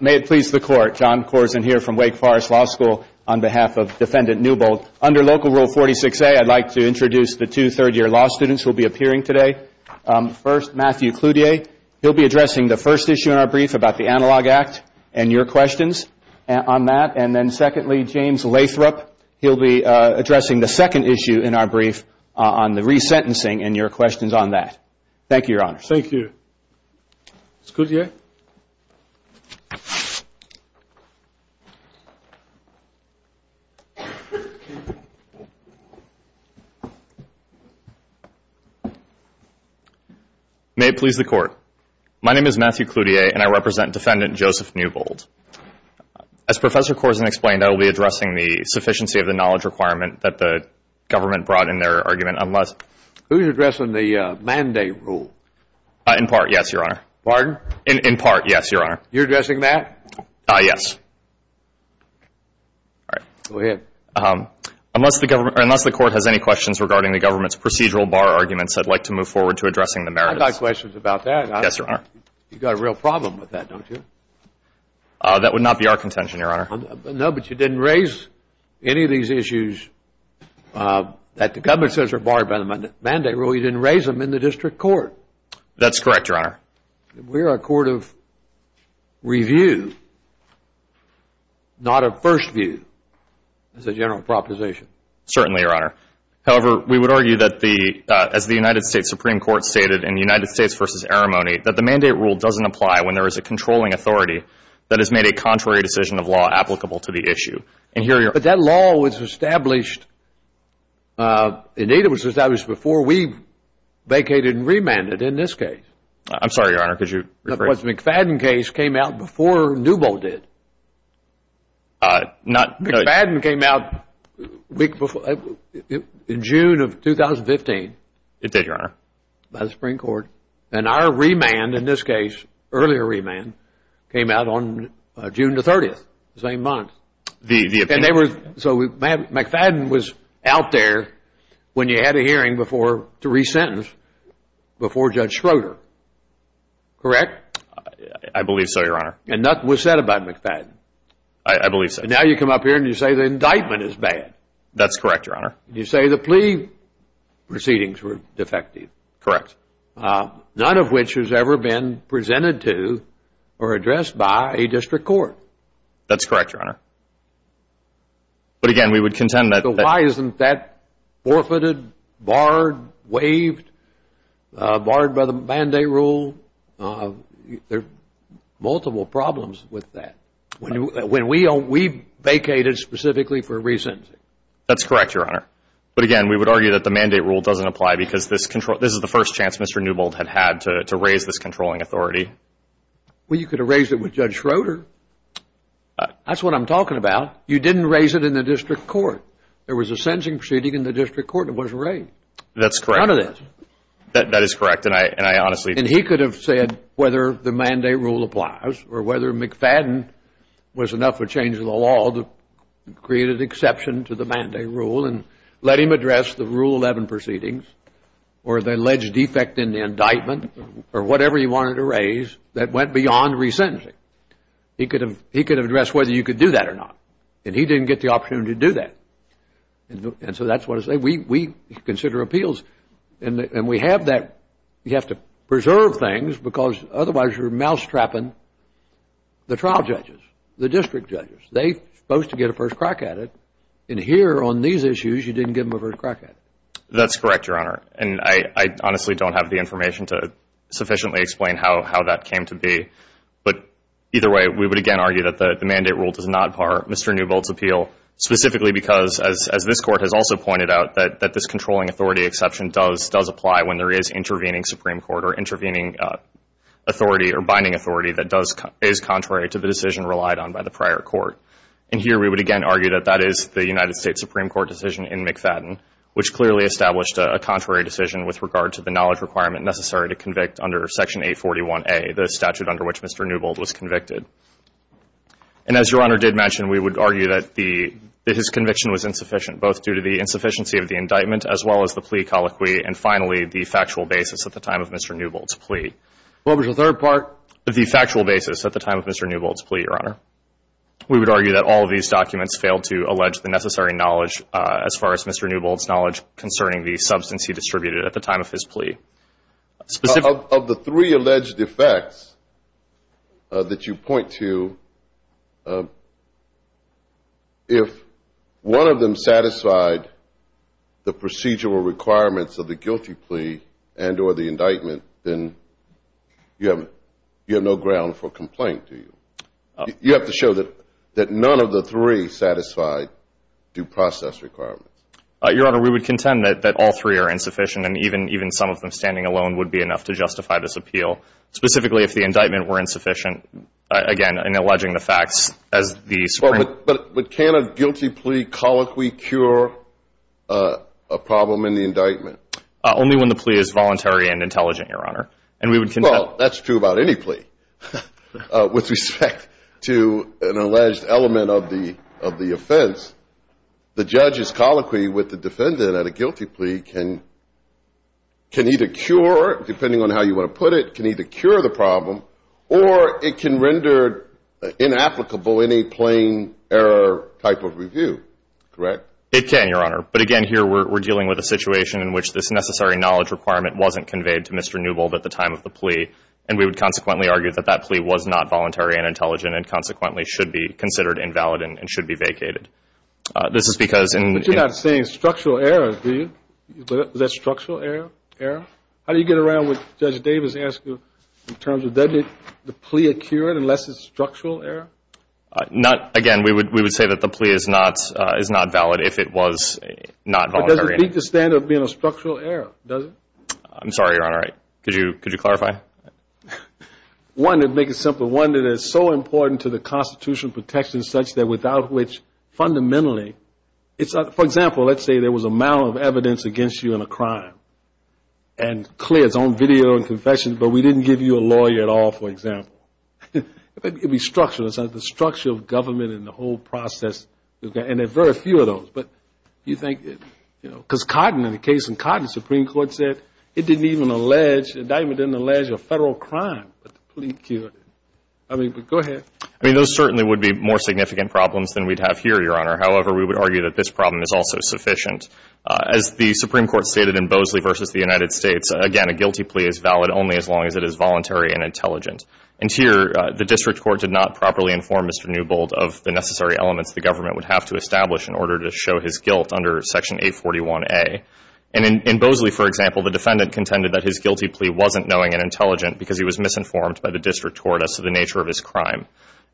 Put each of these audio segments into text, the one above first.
May it please the Court. John Corzine here from Wake Forest Law School on behalf of Defendant Newbold. Under Local Rule 46A, I'd like to introduce the two third-year law students who will be appearing today. First, Matthew Cloutier. He'll be addressing the first issue in our brief about the Analog Act and your questions on that. And then secondly, James Lathrop. He'll be addressing the second issue in our brief on the resentencing and your questions on that. Thank you, Your Honor. Thank you. Mr. Cloutier. May it please the Court. My name is Matthew Cloutier, and I represent Defendant Joseph Newbold. As Professor Corzine explained, I will be addressing the sufficiency of the knowledge requirement that the government brought in their argument unless Who's addressing the mandate rule? In part, yes, Your Honor. Pardon? In part, yes, Your Honor. You're addressing that? Yes. All right. Go ahead. Unless the Court has any questions regarding the government's procedural bar arguments, I'd like to move forward to addressing the merits. I've got questions about that. Yes, Your Honor. You've got a real problem with that, don't you? That would not be our contention, Your Honor. No, but you didn't raise any of these issues that the government says are barred by the mandate rule. You didn't raise them in the district court. That's correct, Your Honor. We're a court of review, not of first view, as a general proposition. Certainly, Your Honor. However, we would argue that as the United States Supreme Court stated in the United States v. Arimony, that the mandate rule doesn't apply when there is a controlling authority that has made a contrary decision of law applicable to the issue. But that law was established, indeed, it was established before we vacated and remanded in this case. I'm sorry, Your Honor, could you rephrase that? The McFadden case came out before Newbo did. McFadden came out in June of 2015. It did, Your Honor. By the Supreme Court. And our remand in this case, earlier remand, came out on June the 30th, the same month. McFadden was out there when you had a hearing to resentence before Judge Schroeder, correct? I believe so, Your Honor. And nothing was said about McFadden. I believe so. Now you come up here and you say the indictment is bad. That's correct, Your Honor. You say the plea proceedings were defective. Correct. None of which has ever been presented to or addressed by a district court. That's correct, Your Honor. But, again, we would contend that... So why isn't that forfeited, barred, waived, barred by the mandate rule? There are multiple problems with that. When we vacated specifically for resentencing. That's correct, Your Honor. But, again, we would argue that the mandate rule doesn't apply because this is the first chance Mr. Newbold had had to raise this controlling authority. Well, you could have raised it with Judge Schroeder. That's what I'm talking about. You didn't raise it in the district court. There was a sentencing proceeding in the district court and it wasn't raised. That's correct. None of this. That is correct. And I honestly... And he could have said whether the mandate rule applies or whether McFadden was enough of a change in the law to create an exception to the mandate rule and let him address the Rule 11 proceedings or the alleged defect in the indictment or whatever he wanted to raise that went beyond resentencing. He could have addressed whether you could do that or not. And he didn't get the opportunity to do that. And so that's what I say. We consider appeals. And we have that. You have to preserve things because otherwise you're mousetrapping the trial judges, the district judges. They're supposed to get a first crack at it. And here on these issues, you didn't give them a first crack at it. That's correct, Your Honor. And I honestly don't have the information to sufficiently explain how that came to be. But either way, we would again argue that the mandate rule does not par Mr. Newbold's appeal specifically because, as this Court has also pointed out, that this controlling authority exception does apply when there is intervening Supreme Court or intervening authority or binding authority that is contrary to the decision relied on by the prior court. And here we would again argue that that is the United States Supreme Court decision in McFadden, which clearly established a contrary decision with regard to the knowledge requirement necessary to convict under Section 841A, the statute under which Mr. Newbold was convicted. And as Your Honor did mention, we would argue that his conviction was insufficient, both due to the insufficiency of the indictment as well as the plea colloquy and finally the factual basis at the time of Mr. Newbold's plea. What was the third part? The factual basis at the time of Mr. Newbold's plea, Your Honor. We would argue that all of these documents failed to allege the necessary knowledge as far as Mr. Newbold's knowledge concerning the substance he distributed at the time of his plea. Of the three alleged defects that you point to, if one of them satisfied the procedural requirements of the guilty plea and or the indictment, then you have no ground for complaint, do you? You have to show that none of the three satisfied due process requirements. Your Honor, we would contend that all three are insufficient and even some of them standing alone would be enough to justify this appeal, specifically if the indictment were insufficient, again, in alleging the facts as the Supreme Court. But can a guilty plea colloquy cure a problem in the indictment? Only when the plea is voluntary and intelligent, Your Honor. Well, that's true about any plea with respect to an alleged element of the offense. The judge's colloquy with the defendant at a guilty plea can either cure, depending on how you want to put it, can either cure the problem or it can render inapplicable in a plain error type of review, correct? It can, Your Honor. But again, here we're dealing with a situation in which this necessary knowledge requirement wasn't conveyed to Mr. Newbold at the time of the plea and we would consequently argue that that plea was not voluntary and intelligent and consequently should be considered invalid and should be vacated. But you're not saying structural error, do you? Is that structural error? How do you get around what Judge Davis asked you in terms of does the plea occur unless it's structural error? Again, we would say that the plea is not valid if it was not voluntary. But does it beat the standard of being a structural error, does it? I'm sorry, Your Honor. Could you clarify? One, to make it simple, one that is so important to the constitutional protection such that without which fundamentally it's not. For example, let's say there was a amount of evidence against you in a crime and clear, it's on video and confession, but we didn't give you a lawyer at all, for example. It would be structural. It's the structure of government and the whole process, and there are very few of those. But you think, you know, because Cotton, in the case of Cotton, the Supreme Court said it didn't even allege, the indictment didn't allege a federal crime, but the plea occurred. I mean, go ahead. I mean, those certainly would be more significant problems than we'd have here, Your Honor. However, we would argue that this problem is also sufficient. As the Supreme Court stated in Bosley v. The United States, again, a guilty plea is valid only as long as it is voluntary and intelligent. And here the district court did not properly inform Mr. Newbold of the necessary elements the government would have to establish in order to show his guilt under Section 841A. And in Bosley, for example, the defendant contended that his guilty plea wasn't knowing and intelligent because he was misinformed by the district court as to the nature of his crime.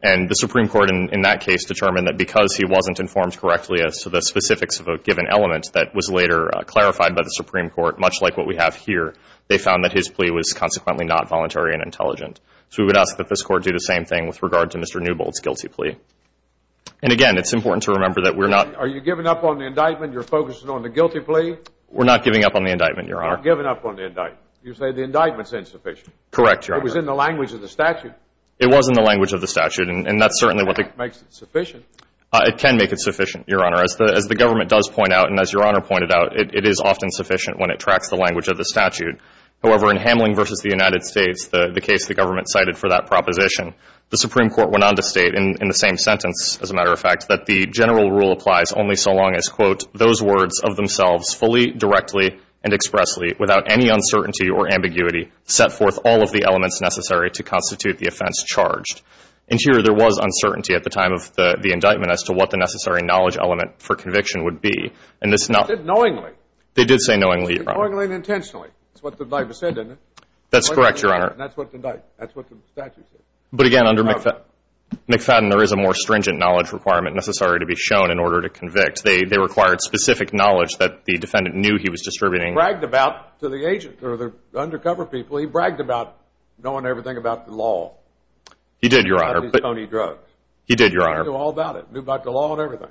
And the Supreme Court in that case determined that because he wasn't informed correctly as to the specifics of a given element that was later clarified by the Supreme Court, much like what we have here, they found that his plea was consequently not voluntary and intelligent. So we would ask that this Court do the same thing with regard to Mr. Newbold's guilty plea. And again, it's important to remember that we're not Are you giving up on the indictment? You're focusing on the guilty plea? We're not giving up on the indictment, Your Honor. You're not giving up on the indictment. You say the indictment's insufficient. Correct, Your Honor. It was in the language of the statute. It was in the language of the statute, and that's certainly what the That makes it sufficient. It can make it sufficient, Your Honor. As the government does point out and as Your Honor pointed out, it is often sufficient when it tracks the language of the statute. However, in Hamling v. The United States, the case the government cited for that proposition, the Supreme Court went on to state in the same sentence, as a matter of fact, that the general rule applies only so long as, quote, those words of themselves fully, directly, and expressly, without any uncertainty or ambiguity, set forth all of the elements necessary to constitute the offense charged. And here there was uncertainty at the time of the indictment as to what the necessary knowledge element for conviction would be. It said knowingly. They did say knowingly, Your Honor. It said knowingly and intentionally. That's what the indictment said, isn't it? That's correct, Your Honor. That's what the statute said. But again, under McFadden, there is a more stringent knowledge requirement. It's not necessary to be shown in order to convict. They required specific knowledge that the defendant knew he was distributing. He bragged about to the agents or the undercover people, he bragged about knowing everything about the law. He did, Your Honor. About these Tony drugs. He did, Your Honor. He knew all about it. He knew about the law and everything.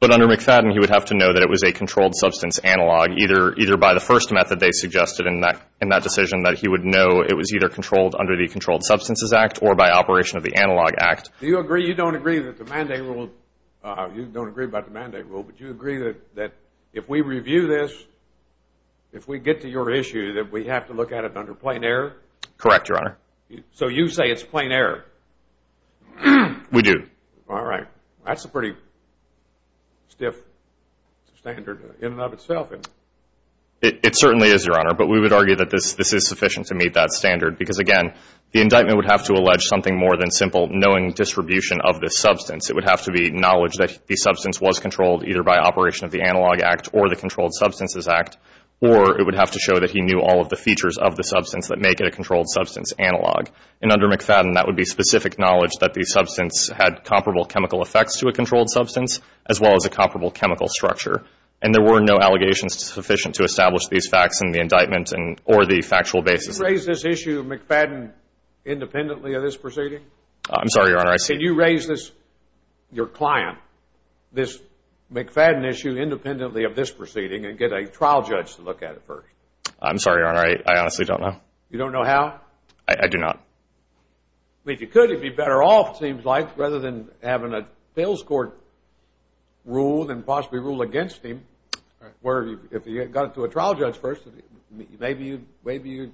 But under McFadden, he would have to know that it was a controlled substance analog, either by the first method they suggested in that decision, that he would know it was either controlled under the Controlled Substances Act or by operation of the Analog Act. Do you agree, you don't agree, that the mandate rule, you don't agree about the mandate rule, but you agree that if we review this, if we get to your issue, that we have to look at it under plain error? Correct, Your Honor. So you say it's plain error? We do. All right. That's a pretty stiff standard in and of itself. It certainly is, Your Honor. But we would argue that this is sufficient to meet that standard because, again, the indictment would have to allege something more than simple knowing distribution of this substance. It would have to be knowledge that the substance was controlled either by operation of the Analog Act or the Controlled Substances Act, or it would have to show that he knew all of the features of the substance that make it a controlled substance analog. And under McFadden, that would be specific knowledge that the substance had comparable chemical effects to a controlled substance as well as a comparable chemical structure. And there were no allegations sufficient to establish these facts in the indictment or the factual basis. Could you raise this issue of McFadden independently of this proceeding? I'm sorry, Your Honor. Could you raise this, your client, this McFadden issue independently of this proceeding and get a trial judge to look at it first? I'm sorry, Your Honor. I honestly don't know. You don't know how? I do not. If you could, it would be better off, it seems like, rather than having a fails court rule than possibly rule against him. If you got it to a trial judge first, maybe you'd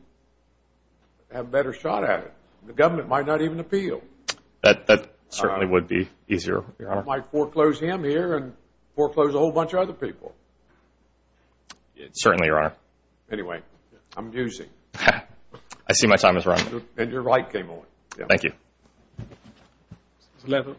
have a better shot at it. The government might not even appeal. That certainly would be easier, Your Honor. You might foreclose him here and foreclose a whole bunch of other people. Certainly, Your Honor. Anyway, I'm musing. I see my time has run. And your right came on. Thank you. Mr. Lathrop.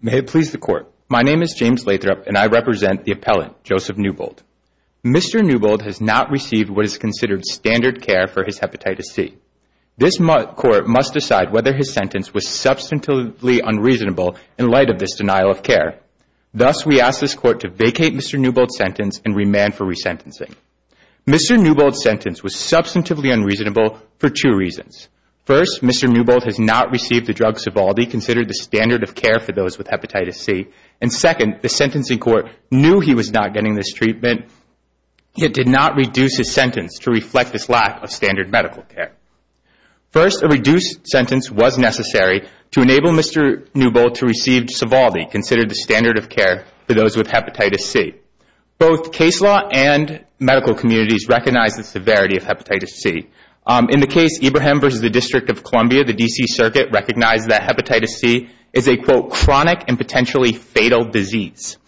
May it please the Court. My name is James Lathrop, and I represent the appellant, Joseph Newbold. Mr. Newbold has not received what is considered standard care for his hepatitis C. This court must decide whether his sentence was substantively unreasonable in light of this denial of care. Thus, we ask this court to vacate Mr. Newbold's sentence and remand for resentencing. Mr. Newbold's sentence was substantively unreasonable for two reasons. First, Mr. Newbold has not received the drug Sovaldi, considered the standard of care for those with hepatitis C. And second, the sentencing court knew he was not getting this treatment, yet did not reduce his sentence to reflect this lack of standard medical care. First, a reduced sentence was necessary to enable Mr. Newbold to receive Sovaldi, considered the standard of care for those with hepatitis C. Both case law and medical communities recognize the severity of hepatitis C. In the case Ibrahim v. District of Columbia, the D.C. Circuit recognized that hepatitis C is a, quote, chronic and potentially fatal disease.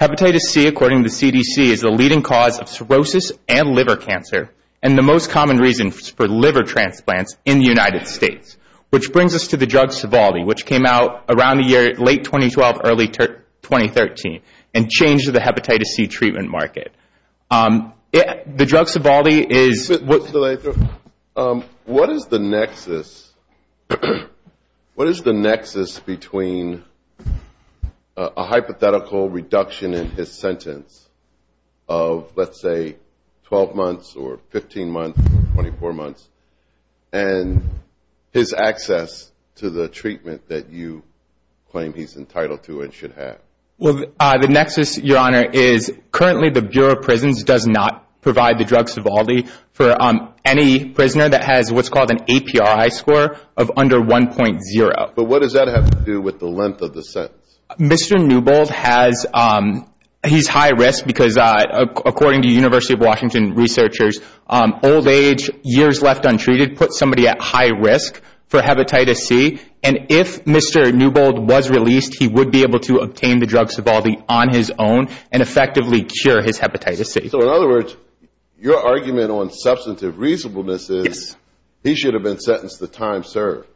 Hepatitis C, according to the CDC, is the leading cause of cirrhosis and liver cancer and the most common reason for liver transplants in the United States, which brings us to the drug Sovaldi, which came out around the year late 2012, early 2013, and changed the hepatitis C treatment market. The drug Sovaldi is- What is the nexus between a hypothetical reduction in his sentence of, let's say, 12 months or 15 months, 24 months, and his access to the treatment that you claim he's entitled to and should have? Well, the nexus, Your Honor, is currently the Bureau of Prisons does not provide the drug Sovaldi for any prisoner that has what's called an APRI score of under 1.0. But what does that have to do with the length of the sentence? Mr. Newbold has-he's high risk because, according to University of Washington researchers, old age, years left untreated puts somebody at high risk for hepatitis C, and if Mr. Newbold was released, he would be able to obtain the drug Sovaldi on his own and effectively cure his hepatitis C. So, in other words, your argument on substantive reasonableness is he should have been sentenced to time served.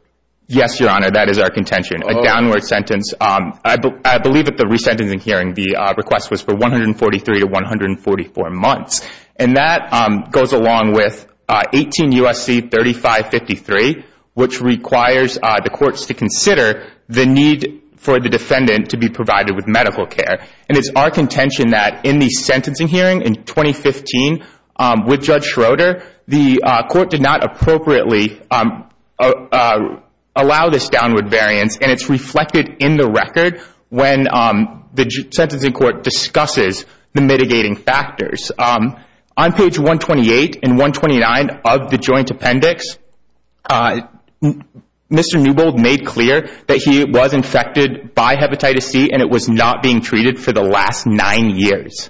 Yes, Your Honor, that is our contention, a downward sentence. I believe at the resentencing hearing the request was for 143 to 144 months, and that goes along with 18 U.S.C. 3553, which requires the courts to consider the need for the defendant to be provided with medical care. And it's our contention that in the sentencing hearing in 2015 with Judge Schroeder, the court did not appropriately allow this downward variance, and it's reflected in the record when the sentencing court discusses the mitigating factors. On page 128 and 129 of the joint appendix, Mr. Newbold made clear that he was infected by hepatitis C and it was not being treated for the last nine years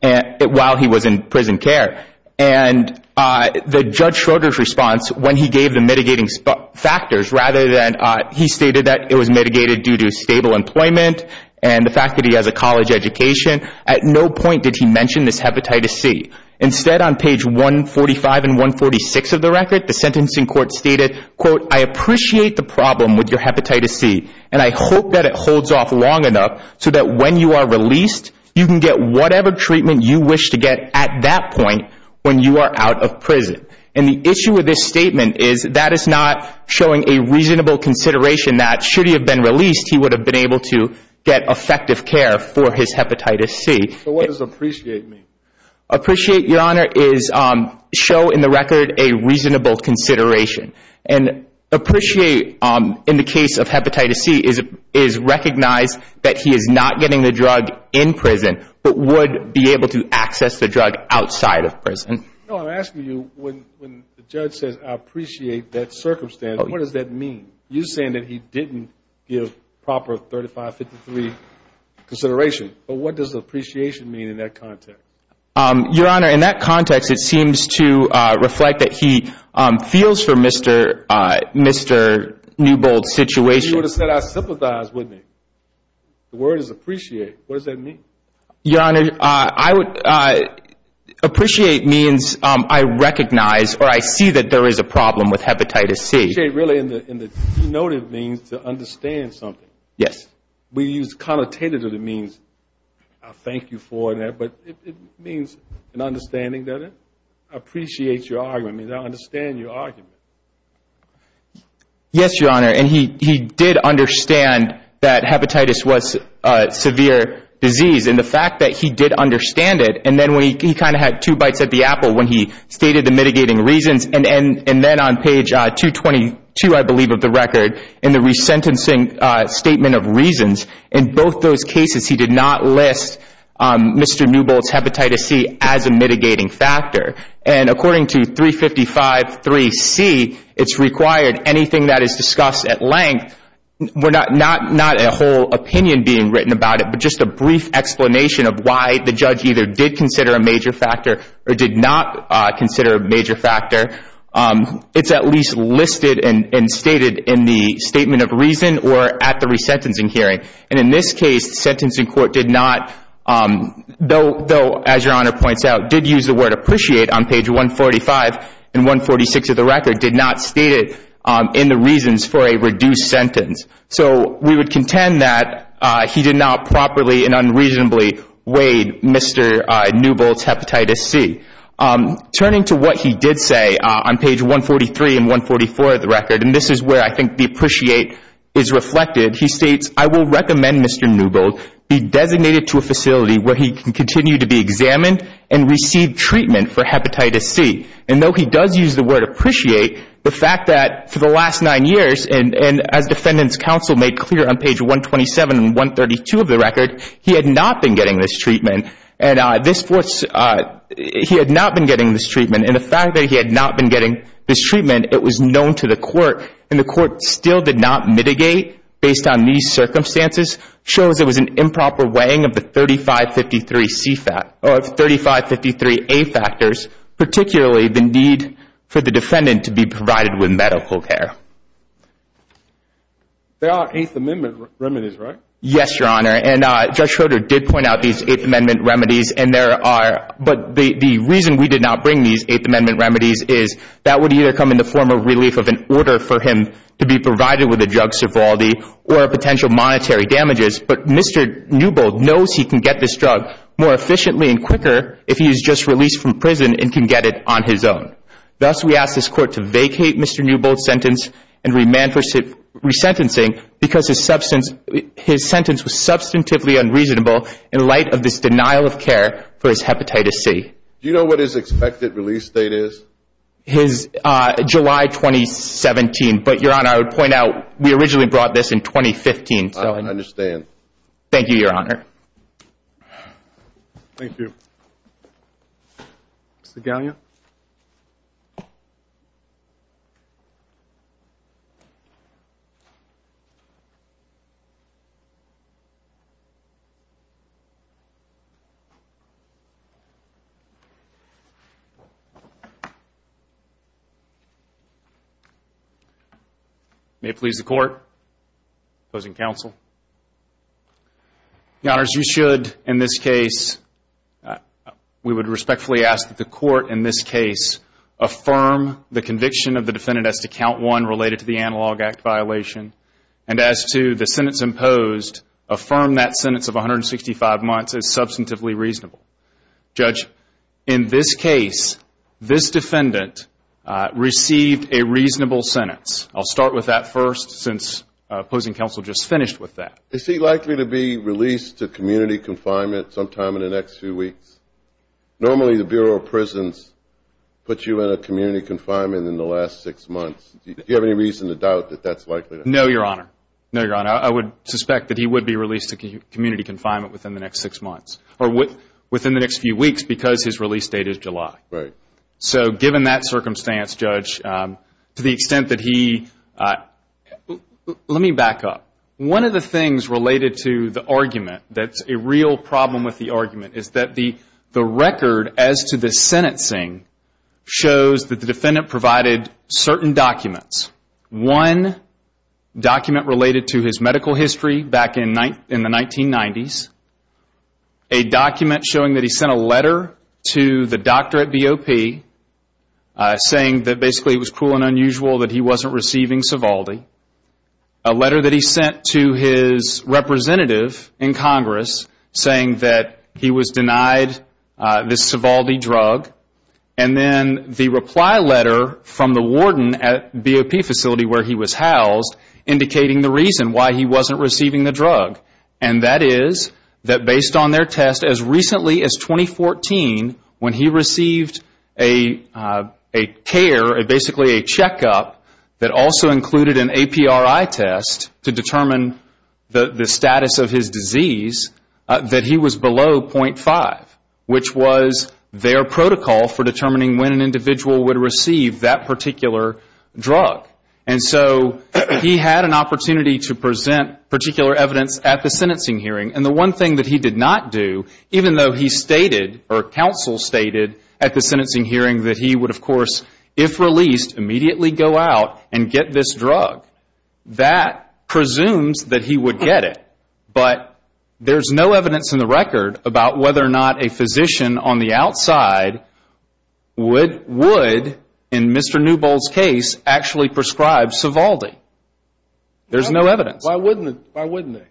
while he was in prison care. And the Judge Schroeder's response when he gave the mitigating factors, rather than he stated that it was mitigated due to stable employment and the fact that he has a college education, at no point did he mention this hepatitis C. Instead, on page 145 and 146 of the record, the sentencing court stated, quote, I appreciate the problem with your hepatitis C, and I hope that it holds off long enough so that when you are released, you can get whatever treatment you wish to get at that point when you are out of prison. And the issue with this statement is that is not showing a reasonable consideration that should he have been released, he would have been able to get effective care for his hepatitis C. So what does appreciate mean? Appreciate, Your Honor, is show in the record a reasonable consideration. And appreciate, in the case of hepatitis C, is recognize that he is not getting the drug in prison but would be able to access the drug outside of prison. No, I'm asking you, when the judge says I appreciate that circumstance, what does that mean? You're saying that he didn't give proper 3553 consideration. But what does appreciation mean in that context? Your Honor, in that context, it seems to reflect that he feels for Mr. Newbold's situation. You would have said I sympathize, wouldn't you? The word is appreciate. What does that mean? Your Honor, appreciate means I recognize or I see that there is a problem with hepatitis C. Appreciate really in the denoted means to understand something. Yes. We use connotative of the means. I thank you for that. But it means an understanding that it appreciates your argument. It means I understand your argument. Yes, Your Honor. And he did understand that hepatitis was a severe disease. And the fact that he did understand it. And then he kind of had two bites at the apple when he stated the mitigating reasons. And then on page 222, I believe, of the record, in the resentencing statement of reasons, in both those cases he did not list Mr. Newbold's hepatitis C as a mitigating factor. And according to 3553C, it's required anything that is discussed at length, not a whole opinion being written about it, but just a brief explanation of why the judge either did consider a major factor or did not consider a major factor, it's at least listed and stated in the statement of reason or at the resentencing hearing. And in this case, the sentencing court did not, though, as Your Honor points out, did use the word appreciate on page 145 and 146 of the record, did not state it in the reasons for a reduced sentence. So we would contend that he did not properly and unreasonably weighed Mr. Newbold's hepatitis C. Turning to what he did say on page 143 and 144 of the record, and this is where I think the appreciate is reflected, he states, I will recommend Mr. Newbold be designated to a facility where he can continue to be examined and receive treatment for hepatitis C. And though he does use the word appreciate, the fact that for the last nine years, and as defendant's counsel made clear on page 127 and 132 of the record, he had not been getting this treatment. And he had not been getting this treatment, and the fact that he had not been getting this treatment, it was known to the court, and the court still did not mitigate based on these circumstances, shows it was an improper weighing of the 3553A factors, particularly the need for the defendant to be provided with medical care. There are Eighth Amendment remedies, right? Yes, Your Honor, and Judge Schroeder did point out these Eighth Amendment remedies, and there are, but the reason we did not bring these Eighth Amendment remedies is that would either come in the form of relief of an order for him to be provided with a drug sobriety or potential monetary damages, but Mr. Newbold knows he can get this drug more efficiently and quicker if he is just released from prison and can get it on his own. Thus, we ask this court to vacate Mr. Newbold's sentence and remand for resentencing because his sentence was substantively unreasonable in light of this denial of care for his hepatitis C. Do you know what his expected release date is? His July 2017, but Your Honor, I would point out we originally brought this in 2015. I understand. Thank you, Your Honor. Thank you. Mr. Galliano? May it please the Court. Opposing counsel? Your Honors, you should, in this case, we would respectfully ask that the Court, in this case, affirm the conviction of the defendant as to Count 1 related to the Analog Act violation and as to the sentence imposed, affirm that sentence of 165 months as substantively reasonable. Judge, in this case, this defendant received a reasonable sentence. I'll start with that first since opposing counsel just finished with that. Is he likely to be released to community confinement sometime in the next few weeks? Normally, the Bureau of Prisons puts you in a community confinement in the last six months. Do you have any reason to doubt that that's likely to happen? No, Your Honor. No, Your Honor. I would suspect that he would be released to community confinement within the next six months or within the next few weeks because his release date is July. Right. So given that circumstance, Judge, to the extent that he, let me back up. One of the things related to the argument that's a real problem with the argument is that the record as to the sentencing shows that the defendant provided certain documents. One document related to his medical history back in the 1990s, a document showing that he sent a letter to the doctor at BOP saying that basically it was cruel and unusual that he wasn't receiving Sovaldi, a letter that he sent to his representative in Congress saying that he was denied this Sovaldi drug, and then the reply letter from the warden at BOP facility where he was housed indicating the reason why he wasn't receiving the drug. And that is that based on their test, as recently as 2014 when he received a care, basically a checkup that also included an APRI test to determine the status of his disease, that he was below .5, which was their protocol for determining when an individual would receive that particular drug. And so he had an opportunity to present particular evidence at the sentencing hearing. And the one thing that he did not do, even though he stated or counsel stated at the sentencing hearing that he would, of course, if released, immediately go out and get this drug, that presumes that he would get it. But there's no evidence in the record about whether or not a physician on the outside would, in Mr. Newbold's case, actually prescribe Sovaldi. There's no evidence. Why wouldn't they?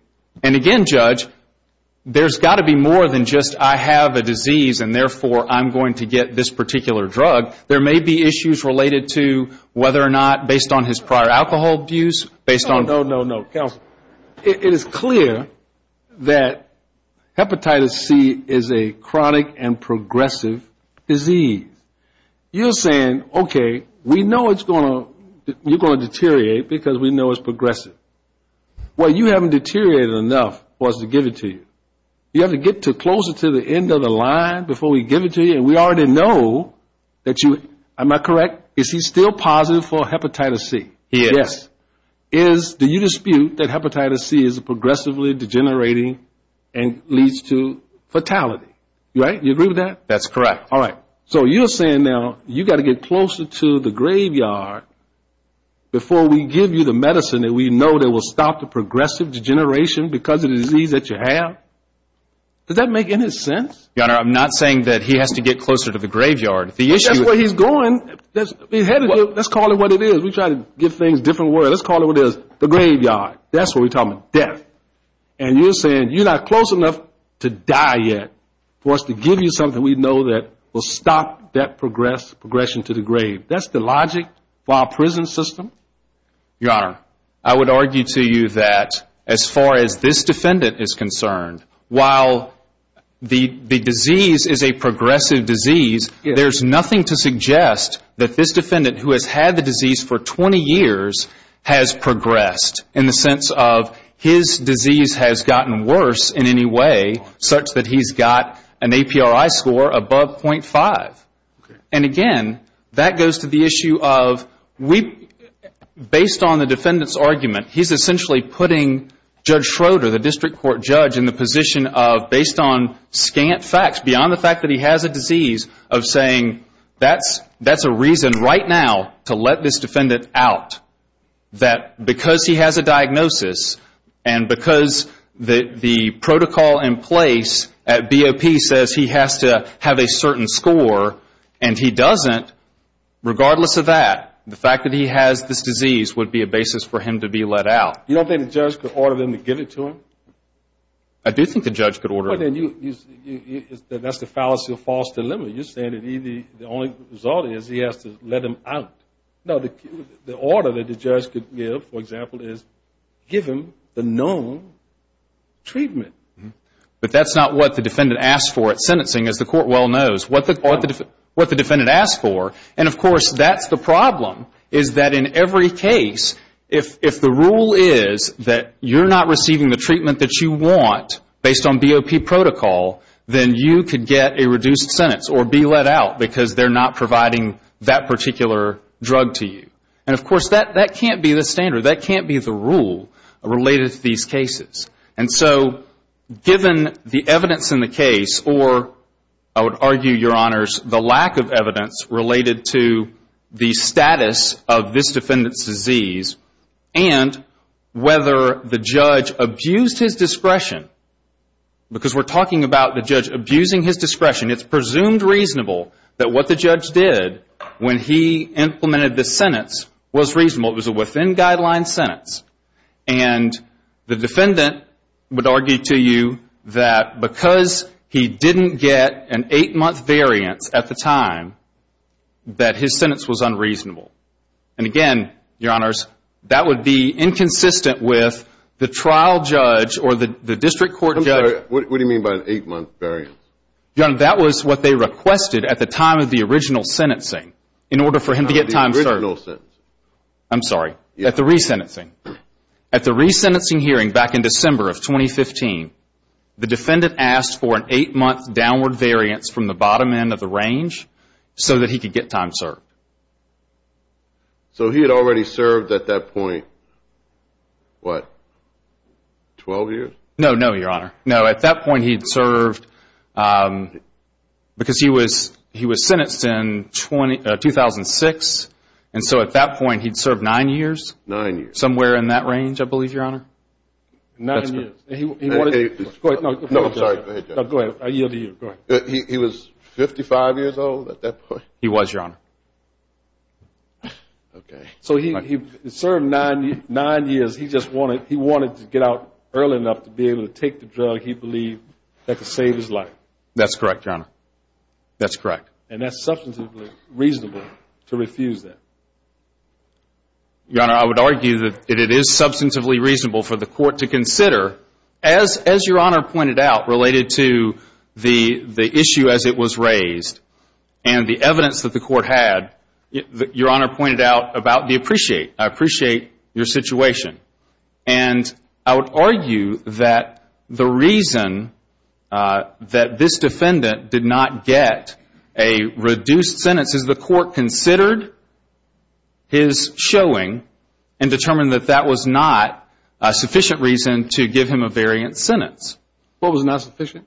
And again, Judge, there's got to be more than just I have a disease and therefore I'm going to get this particular drug. There may be issues related to whether or not, based on his prior alcohol abuse, based on No, no, no, counsel. It is clear that Hepatitis C is a chronic and progressive disease. You're saying, okay, we know it's going to, you're going to deteriorate because we know it's progressive. Well, you haven't deteriorated enough for us to give it to you. You have to get closer to the end of the line before we give it to you. And we already know that you, am I correct, is he still positive for Hepatitis C? He is. Yes. Do you dispute that Hepatitis C is progressively degenerating and leads to fatality? Right? You agree with that? That's correct. All right. So you're saying now you've got to get closer to the graveyard before we give you the medicine that we know that will stop the progressive degeneration because of the disease that you have? Does that make any sense? Your Honor, I'm not saying that he has to get closer to the graveyard. The issue is... That's where he's going. Let's call it what it is. We try to give things a different word. Let's call it what it is, the graveyard. That's what we're talking about, death. And you're saying you're not close enough to die yet for us to give you something we know that will stop that progression to the grave. That's the logic for our prison system? Your Honor, I would argue to you that as far as this defendant is concerned, while the disease is a progressive disease, there's nothing to suggest that this defendant, who has had the disease for 20 years, has progressed in the sense of his disease has gotten worse in any way, such that he's got an APRI score above .5. And again, that goes to the issue of based on the defendant's argument, he's essentially putting Judge Schroeder, the district court judge, in the position of based on scant facts, beyond the fact that he has a disease, of saying that's a reason right now to let this defendant out. That because he has a diagnosis and because the protocol in place at BOP says he has to have a certain score and he doesn't, regardless of that, the fact that he has this disease would be a basis for him to be let out. You don't think the judge could order them to give it to him? I do think the judge could order him. That's the fallacy of false dilemma. You're saying that the only result is he has to let him out. No, the order that the judge could give, for example, is give him the known treatment. But that's not what the defendant asked for at sentencing, as the court well knows. What the defendant asked for, and of course that's the problem, is that in every case if the rule is that you're not receiving the treatment that you want based on BOP protocol, then you could get a reduced sentence or be let out because they're not providing that particular drug to you. And, of course, that can't be the standard. That can't be the rule related to these cases. And so given the evidence in the case, or I would argue, Your Honors, the lack of evidence related to the status of this defendant's disease and whether the judge abused his discretion, because we're talking about the judge abusing his discretion, it's presumed reasonable that what the judge did when he implemented the sentence was reasonable. It was a within-guideline sentence. And the defendant would argue to you that because he didn't get an eight-month variance at the time, that his sentence was unreasonable. And, again, Your Honors, that would be inconsistent with the trial judge or the district court judge. I'm sorry. What do you mean by an eight-month variance? Your Honor, that was what they requested at the time of the original sentencing in order for him to get time served. At the original sentence? I'm sorry. At the resentencing. At the resentencing hearing back in December of 2015, the defendant asked for an eight-month downward variance from the bottom end of the range so that he could get time served. So he had already served at that point, what, 12 years? No, no, Your Honor. No, at that point he had served because he was sentenced in 2006. And so at that point he'd served nine years? Nine years. Somewhere in that range, I believe, Your Honor. Nine years. That's correct. Go ahead. No, I'm sorry. Go ahead. I yield to you. Go ahead. He was 55 years old at that point? He was, Your Honor. Okay. So he served nine years. He just wanted to get out early enough to be able to take the drug he believed that could save his life. That's correct, Your Honor. That's correct. And that's substantively reasonable to refuse that. Your Honor, I would argue that it is substantively reasonable for the court to consider, as Your Honor pointed out related to the issue as it was raised and the evidence that the court had, Your Honor pointed out about the appreciate, I appreciate your situation. And I would argue that the reason that this defendant did not get a reduced sentence is the court considered his showing and determined that that was not a sufficient reason to give him a variant sentence. What was not sufficient?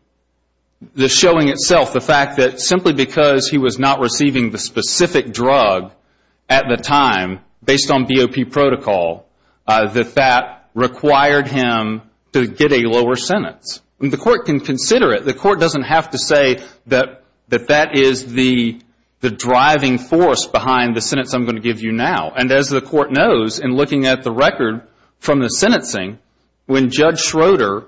The showing itself. The fact that simply because he was not receiving the specific drug at the time based on BOP protocol, that that required him to get a lower sentence. The court can consider it. The court doesn't have to say that that is the driving force behind the sentence I'm going to give you now. And as the court knows, in looking at the record from the sentencing, when Judge Schroeder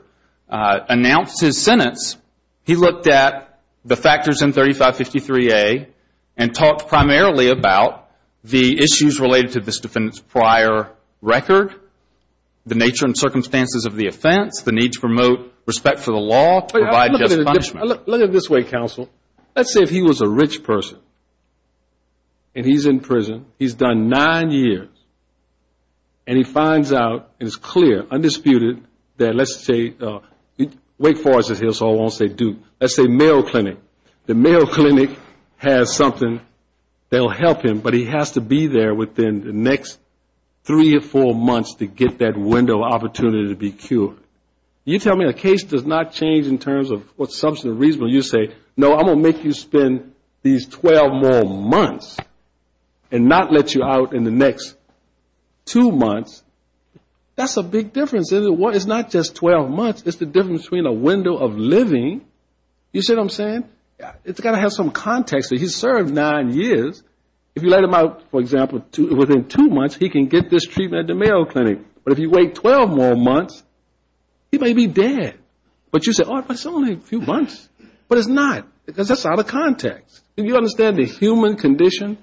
announced his sentence, he looked at the factors in 3553A and talked primarily about the issues related to this defendant's prior record, the nature and circumstances of the offense, the need to promote respect for the law, provide just punishment. Look at it this way, counsel. Let's say if he was a rich person and he's in prison, he's done nine years, and he finds out, and it's clear, undisputed, that let's say Wake Forest is his, so I won't say Duke, let's say Mayo Clinic. The Mayo Clinic has something that will help him, but he has to be there within the next three or four months to get that window of opportunity to be cured. You tell me a case does not change in terms of what substance or reason when you say, no, I'm going to make you spend these 12 more months and not let you out in the next two months. That's a big difference. It's not just 12 months, it's the difference between a window of living. You see what I'm saying? It's got to have some context. He's served nine years. If you let him out, for example, within two months, he can get this treatment at the Mayo Clinic. But if you wait 12 more months, he may be dead. But you say, oh, but it's only a few months. But it's not, because that's out of context. If you understand the human condition,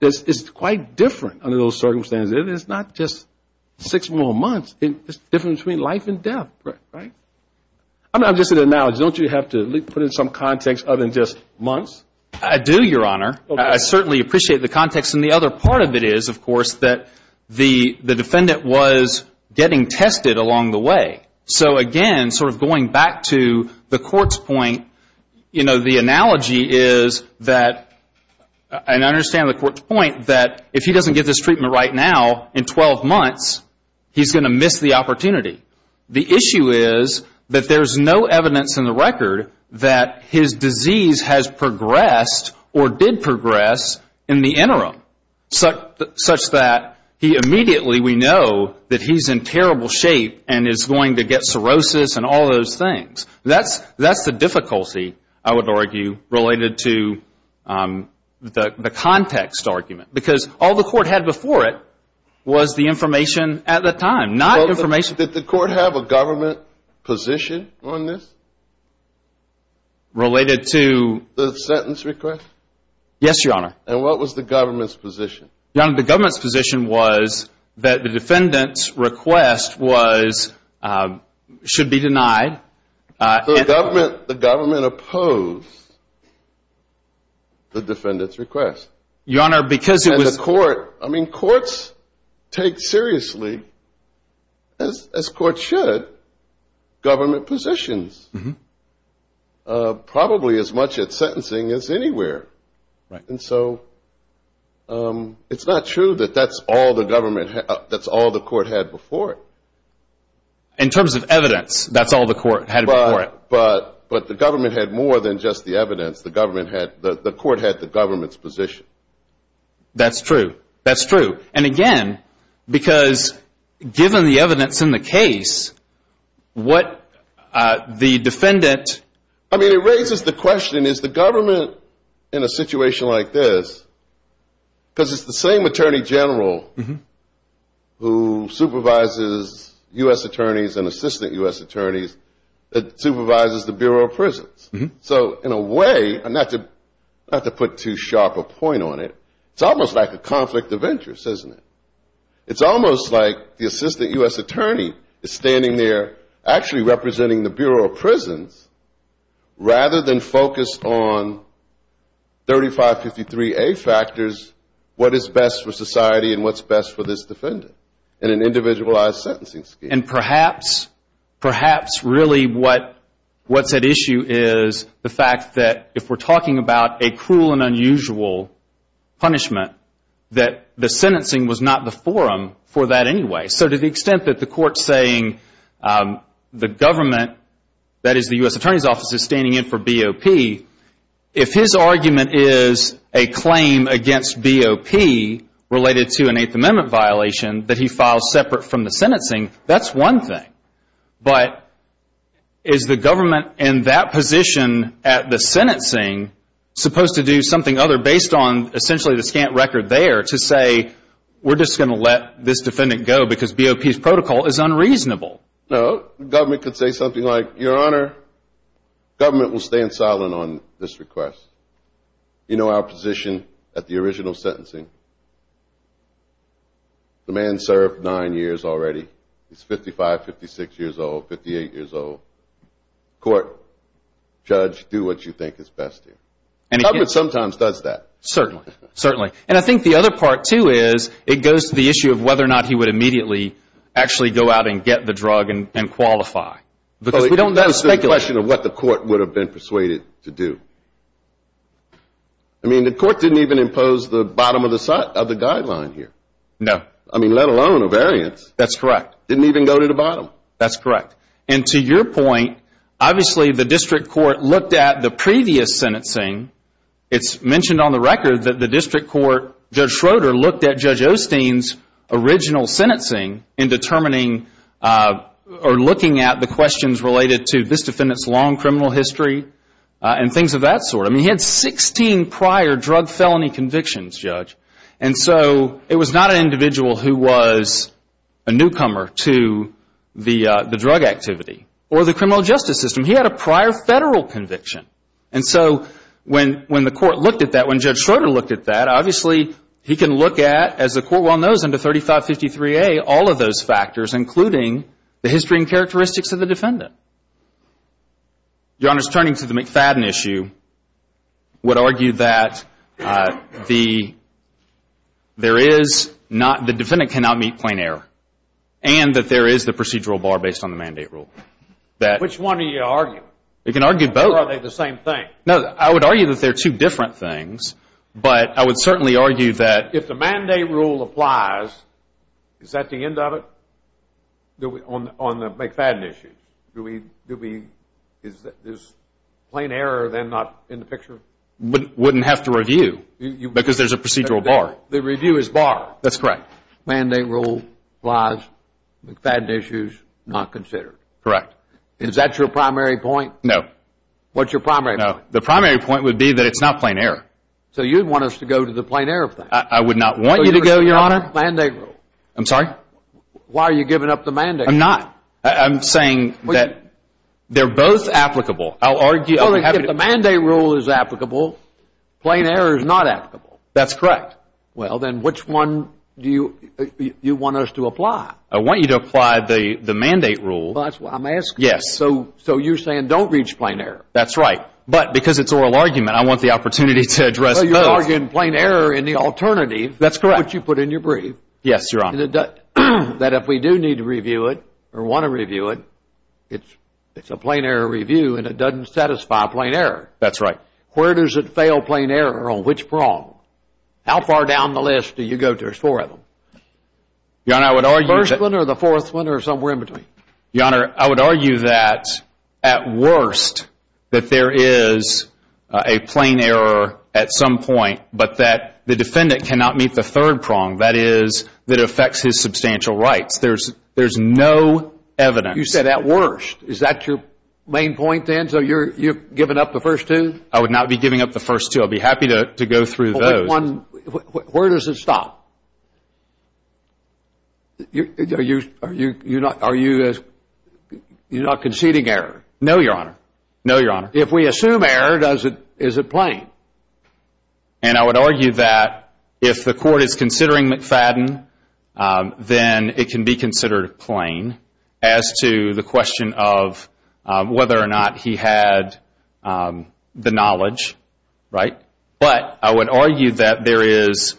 it's quite different under those circumstances. It's not just six more months. It's the difference between life and death, right? I'm just going to acknowledge, don't you have to put in some context other than just months? I do, Your Honor. I certainly appreciate the context, and the other part of it is, of course, that the defendant was getting tested along the way. So, again, sort of going back to the court's point, you know, the analogy is that, and I understand the court's point, that if he doesn't get this treatment right now, in 12 months, he's going to miss the opportunity. The issue is that there's no evidence in the record that his disease has progressed or did progress in the interim, such that he immediately, we know, that he's in terrible shape and is going to get cirrhosis and all those things. That's the difficulty, I would argue, related to the context argument. Because all the court had before it was the information at the time, not information. Did the court have a government position on this? Related to? The sentence request? Yes, Your Honor. And what was the government's position? Your Honor, the government's position was that the defendant's request was, should be denied. The government opposed the defendant's request. Your Honor, because it was. And the court, I mean, courts take seriously, as courts should, government positions, probably as much at sentencing as anywhere. And so it's not true that that's all the court had before it. In terms of evidence, that's all the court had before it. But the government had more than just the evidence. The court had the government's position. That's true. That's true. And, again, because given the evidence in the case, what the defendant... In a situation like this, because it's the same attorney general who supervises U.S. attorneys and assistant U.S. attorneys that supervises the Bureau of Prisons. So in a way, not to put too sharp a point on it, it's almost like a conflict of interest, isn't it? It's almost like the assistant U.S. attorney is standing there actually representing the Bureau of Prisons rather than focused on 3553A factors, what is best for society and what's best for this defendant in an individualized sentencing scheme. And perhaps, perhaps really what's at issue is the fact that if we're talking about a cruel and unusual punishment, that the sentencing was not the forum for that anyway. So to the extent that the court's saying the government, that is the U.S. attorney's office, is standing in for BOP, if his argument is a claim against BOP related to an Eighth Amendment violation that he filed separate from the sentencing, that's one thing. But is the government in that position at the sentencing supposed to do something other based on Because BOP's protocol is unreasonable. No, the government could say something like, Your Honor, government will stand silent on this request. You know our position at the original sentencing. The man served nine years already. He's 55, 56 years old, 58 years old. Court, judge, do what you think is best. Government sometimes does that. Certainly, certainly. And I think the other part, too, is it goes to the issue of whether or not he would immediately actually go out and get the drug and qualify. Because we don't speculate. That's the question of what the court would have been persuaded to do. I mean, the court didn't even impose the bottom of the guideline here. No. I mean, let alone a variance. That's correct. Didn't even go to the bottom. That's correct. And to your point, obviously the district court looked at the previous sentencing. It's mentioned on the record that the district court, Judge Schroeder, looked at Judge Osteen's original sentencing in determining or looking at the questions related to this defendant's long criminal history and things of that sort. I mean, he had 16 prior drug felony convictions, Judge. And so it was not an individual who was a newcomer to the drug activity or the criminal justice system. He had a prior federal conviction. And so when the court looked at that, when Judge Schroeder looked at that, obviously he can look at, as the court well knows under 3553A, all of those factors including the history and characteristics of the defendant. Your Honor, turning to the McFadden issue, would argue that the defendant cannot meet plain error and that there is the procedural bar based on the mandate rule. Which one are you arguing? You can argue both. Or are they the same thing? No, I would argue that they're two different things, but I would certainly argue that If the mandate rule applies, is that the end of it on the McFadden issue? Is plain error then not in the picture? Wouldn't have to review because there's a procedural bar. The review is bar. That's correct. Mandate rule applies, McFadden issue is not considered. Correct. Is that your primary point? No. What's your primary point? The primary point would be that it's not plain error. So you'd want us to go to the plain error thing? I would not want you to go, Your Honor. So you're saying you're on the mandate rule? I'm sorry? Why are you giving up the mandate rule? I'm not. I'm saying that they're both applicable. I'll argue. Well, if the mandate rule is applicable, plain error is not applicable. That's correct. Well, then which one do you want us to apply? I want you to apply the mandate rule. That's what I'm asking. Yes. So you're saying don't reach plain error? That's right. But because it's oral argument, I want the opportunity to address both. Well, you're arguing plain error in the alternative. That's correct. Which you put in your brief. Yes, Your Honor. That if we do need to review it or want to review it, it's a plain error review and it doesn't satisfy plain error. That's right. Where does it fail plain error? On which prong? How far down the list do you go? There's four of them. Your Honor, I would argue that. The first one or the fourth one or somewhere in between? Your Honor, I would argue that at worst that there is a plain error at some point, but that the defendant cannot meet the third prong, that is, that affects his substantial rights. There's no evidence. You said at worst. Is that your main point then? So you're giving up the first two? I would not be giving up the first two. I'd be happy to go through those. Where does it stop? Are you not conceding error? No, Your Honor. No, Your Honor. If we assume error, is it plain? And I would argue that if the court is considering McFadden, then it can be considered plain as to the question of whether or not he had the knowledge, right? But I would argue that there is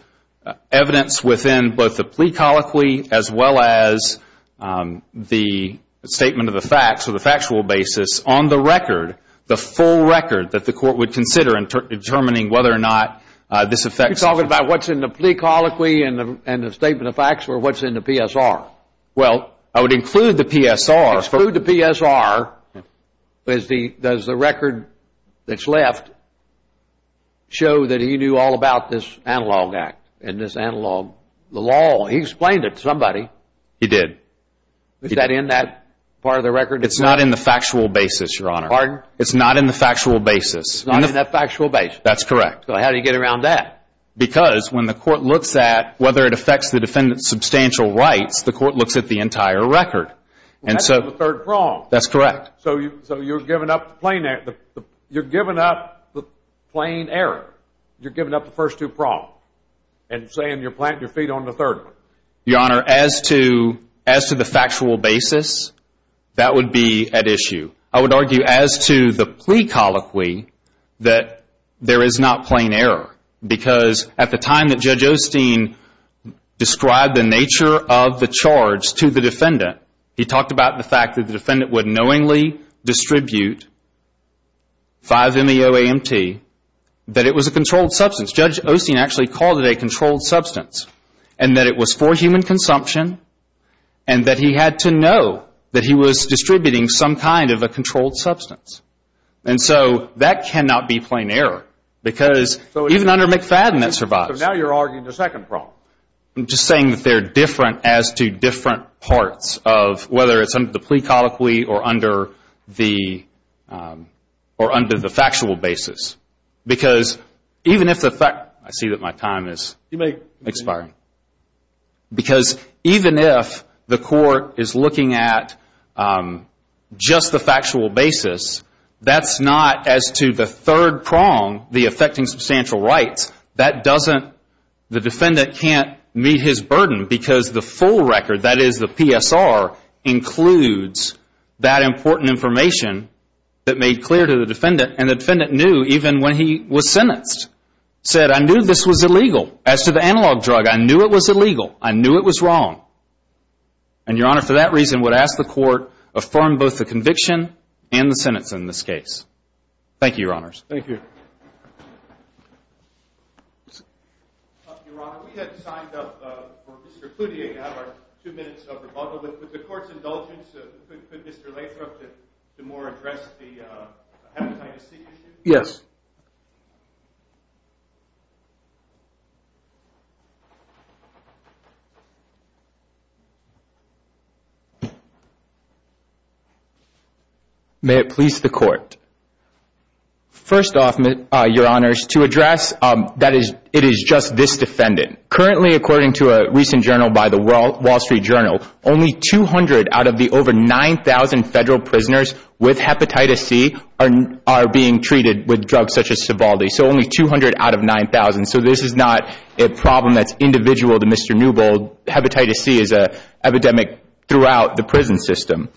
evidence within both the plea colloquy as well as the statement of the facts or the factual basis on the record, the full record that the court would consider in determining whether or not this affects him. You're talking about what's in the plea colloquy and the statement of facts or what's in the PSR? Well, I would include the PSR. Does the record that's left show that he knew all about this analog act and this analog law? He explained it to somebody. He did. Is that in that part of the record? It's not in the factual basis, Your Honor. Pardon? It's not in the factual basis. It's not in that factual basis. That's correct. So how do you get around that? Because when the court looks at whether it affects the defendant's substantial rights, the court looks at the entire record. That's the third prong. That's correct. So you're giving up the plain error. You're giving up the first two prongs and saying you're planting your feet on the third one. Your Honor, as to the factual basis, that would be at issue. I would argue as to the plea colloquy that there is not plain error because at the time that Judge Osteen described the nature of the charge to the defendant, he talked about the fact that the defendant would knowingly distribute 5-MEO-AMT, that it was a controlled substance. Judge Osteen actually called it a controlled substance and that it was for human consumption and that he had to know that he was distributing some kind of a controlled substance. And so that cannot be plain error because even under McFadden that survives. So now you're arguing the second prong. I'm just saying that they're different as to different parts of whether it's under the plea colloquy or under the factual basis because even if the fact, I see that my time is expiring, because even if the court is looking at just the factual basis, that's not as to the third prong, the affecting substantial rights, that doesn't, the defendant can't meet his burden because the full record, that is the PSR, includes that important information that made clear to the defendant said, I knew this was illegal. As to the analog drug, I knew it was illegal. I knew it was wrong. And, Your Honor, for that reason would ask the court affirm both the conviction and the sentence in this case. Thank you, Your Honors. Thank you. Your Honor, we had signed up for Mr. Cloutier to have our two minutes of rebuttal, but with the court's indulgence, could Mr. Lathrop, DeMore, address the hepatitis C issue? Yes. May it please the court. First off, Your Honors, to address that it is just this defendant, currently according to a recent journal by the Wall Street Journal, only 200 out of the over 9,000 federal prisoners with hepatitis C are being treated with drugs such as Sovaldi. So only 200 out of 9,000. So this is not a problem that's individual to Mr. Newbold. Hepatitis C is an epidemic throughout the prison system.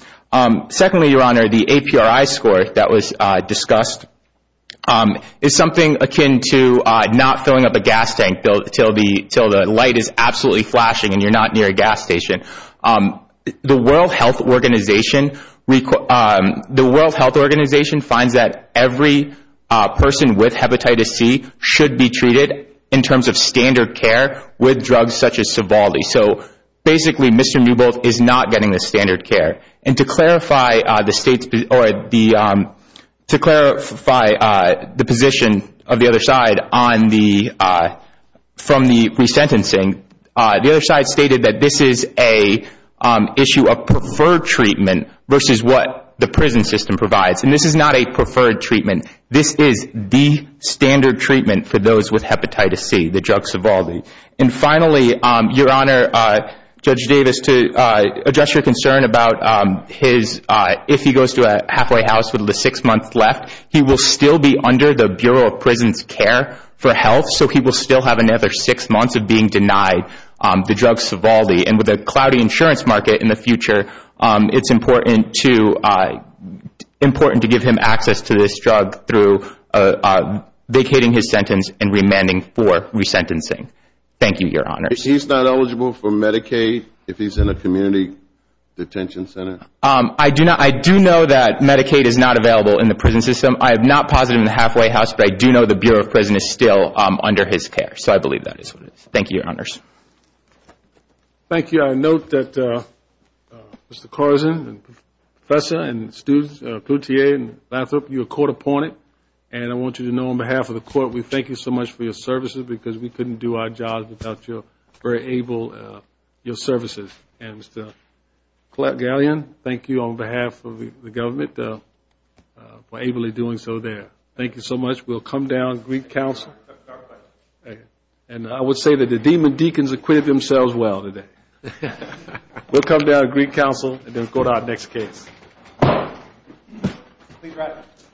Secondly, Your Honor, the APRI score that was discussed is something akin to not filling up a gas tank until the light is absolutely flashing and you're not near a gas station. The World Health Organization finds that every person with hepatitis C should be treated in terms of standard care with drugs such as Sovaldi. So basically Mr. Newbold is not getting the standard care. And to clarify the position of the other side from the resentencing, the other side stated that this is an issue of preferred treatment versus what the prison system provides. And this is not a preferred treatment. This is the standard treatment for those with hepatitis C, the drugs Sovaldi. And finally, Your Honor, Judge Davis, to address your concern about his if he goes to a halfway house with the six months left, he will still be under the Bureau of Prison's care for health, so he will still have another six months of being denied the drugs Sovaldi. And with a cloudy insurance market in the future, it's important to give him access to this drug through vacating his sentence and remanding for resentencing. Thank you, Your Honor. He's not eligible for Medicaid if he's in a community detention center? I do know that Medicaid is not available in the prison system. I am not positive in the halfway house, but I do know the Bureau of Prison is still under his care. So I believe that is what it is. Thank you, Your Honors. Thank you. I note that Mr. Carson and Professor and students, Cloutier and Lathrop, you are court appointed. And I want you to know on behalf of the court, we thank you so much for your services because we couldn't do our job without your very able services. And Mr. Gallion, thank you on behalf of the government for ably doing so there. Thank you so much. We'll come down to Greek Council. And I would say that the demon deacons acquitted themselves well today. We'll come down to Greek Council and then go to our next case. Congratulations.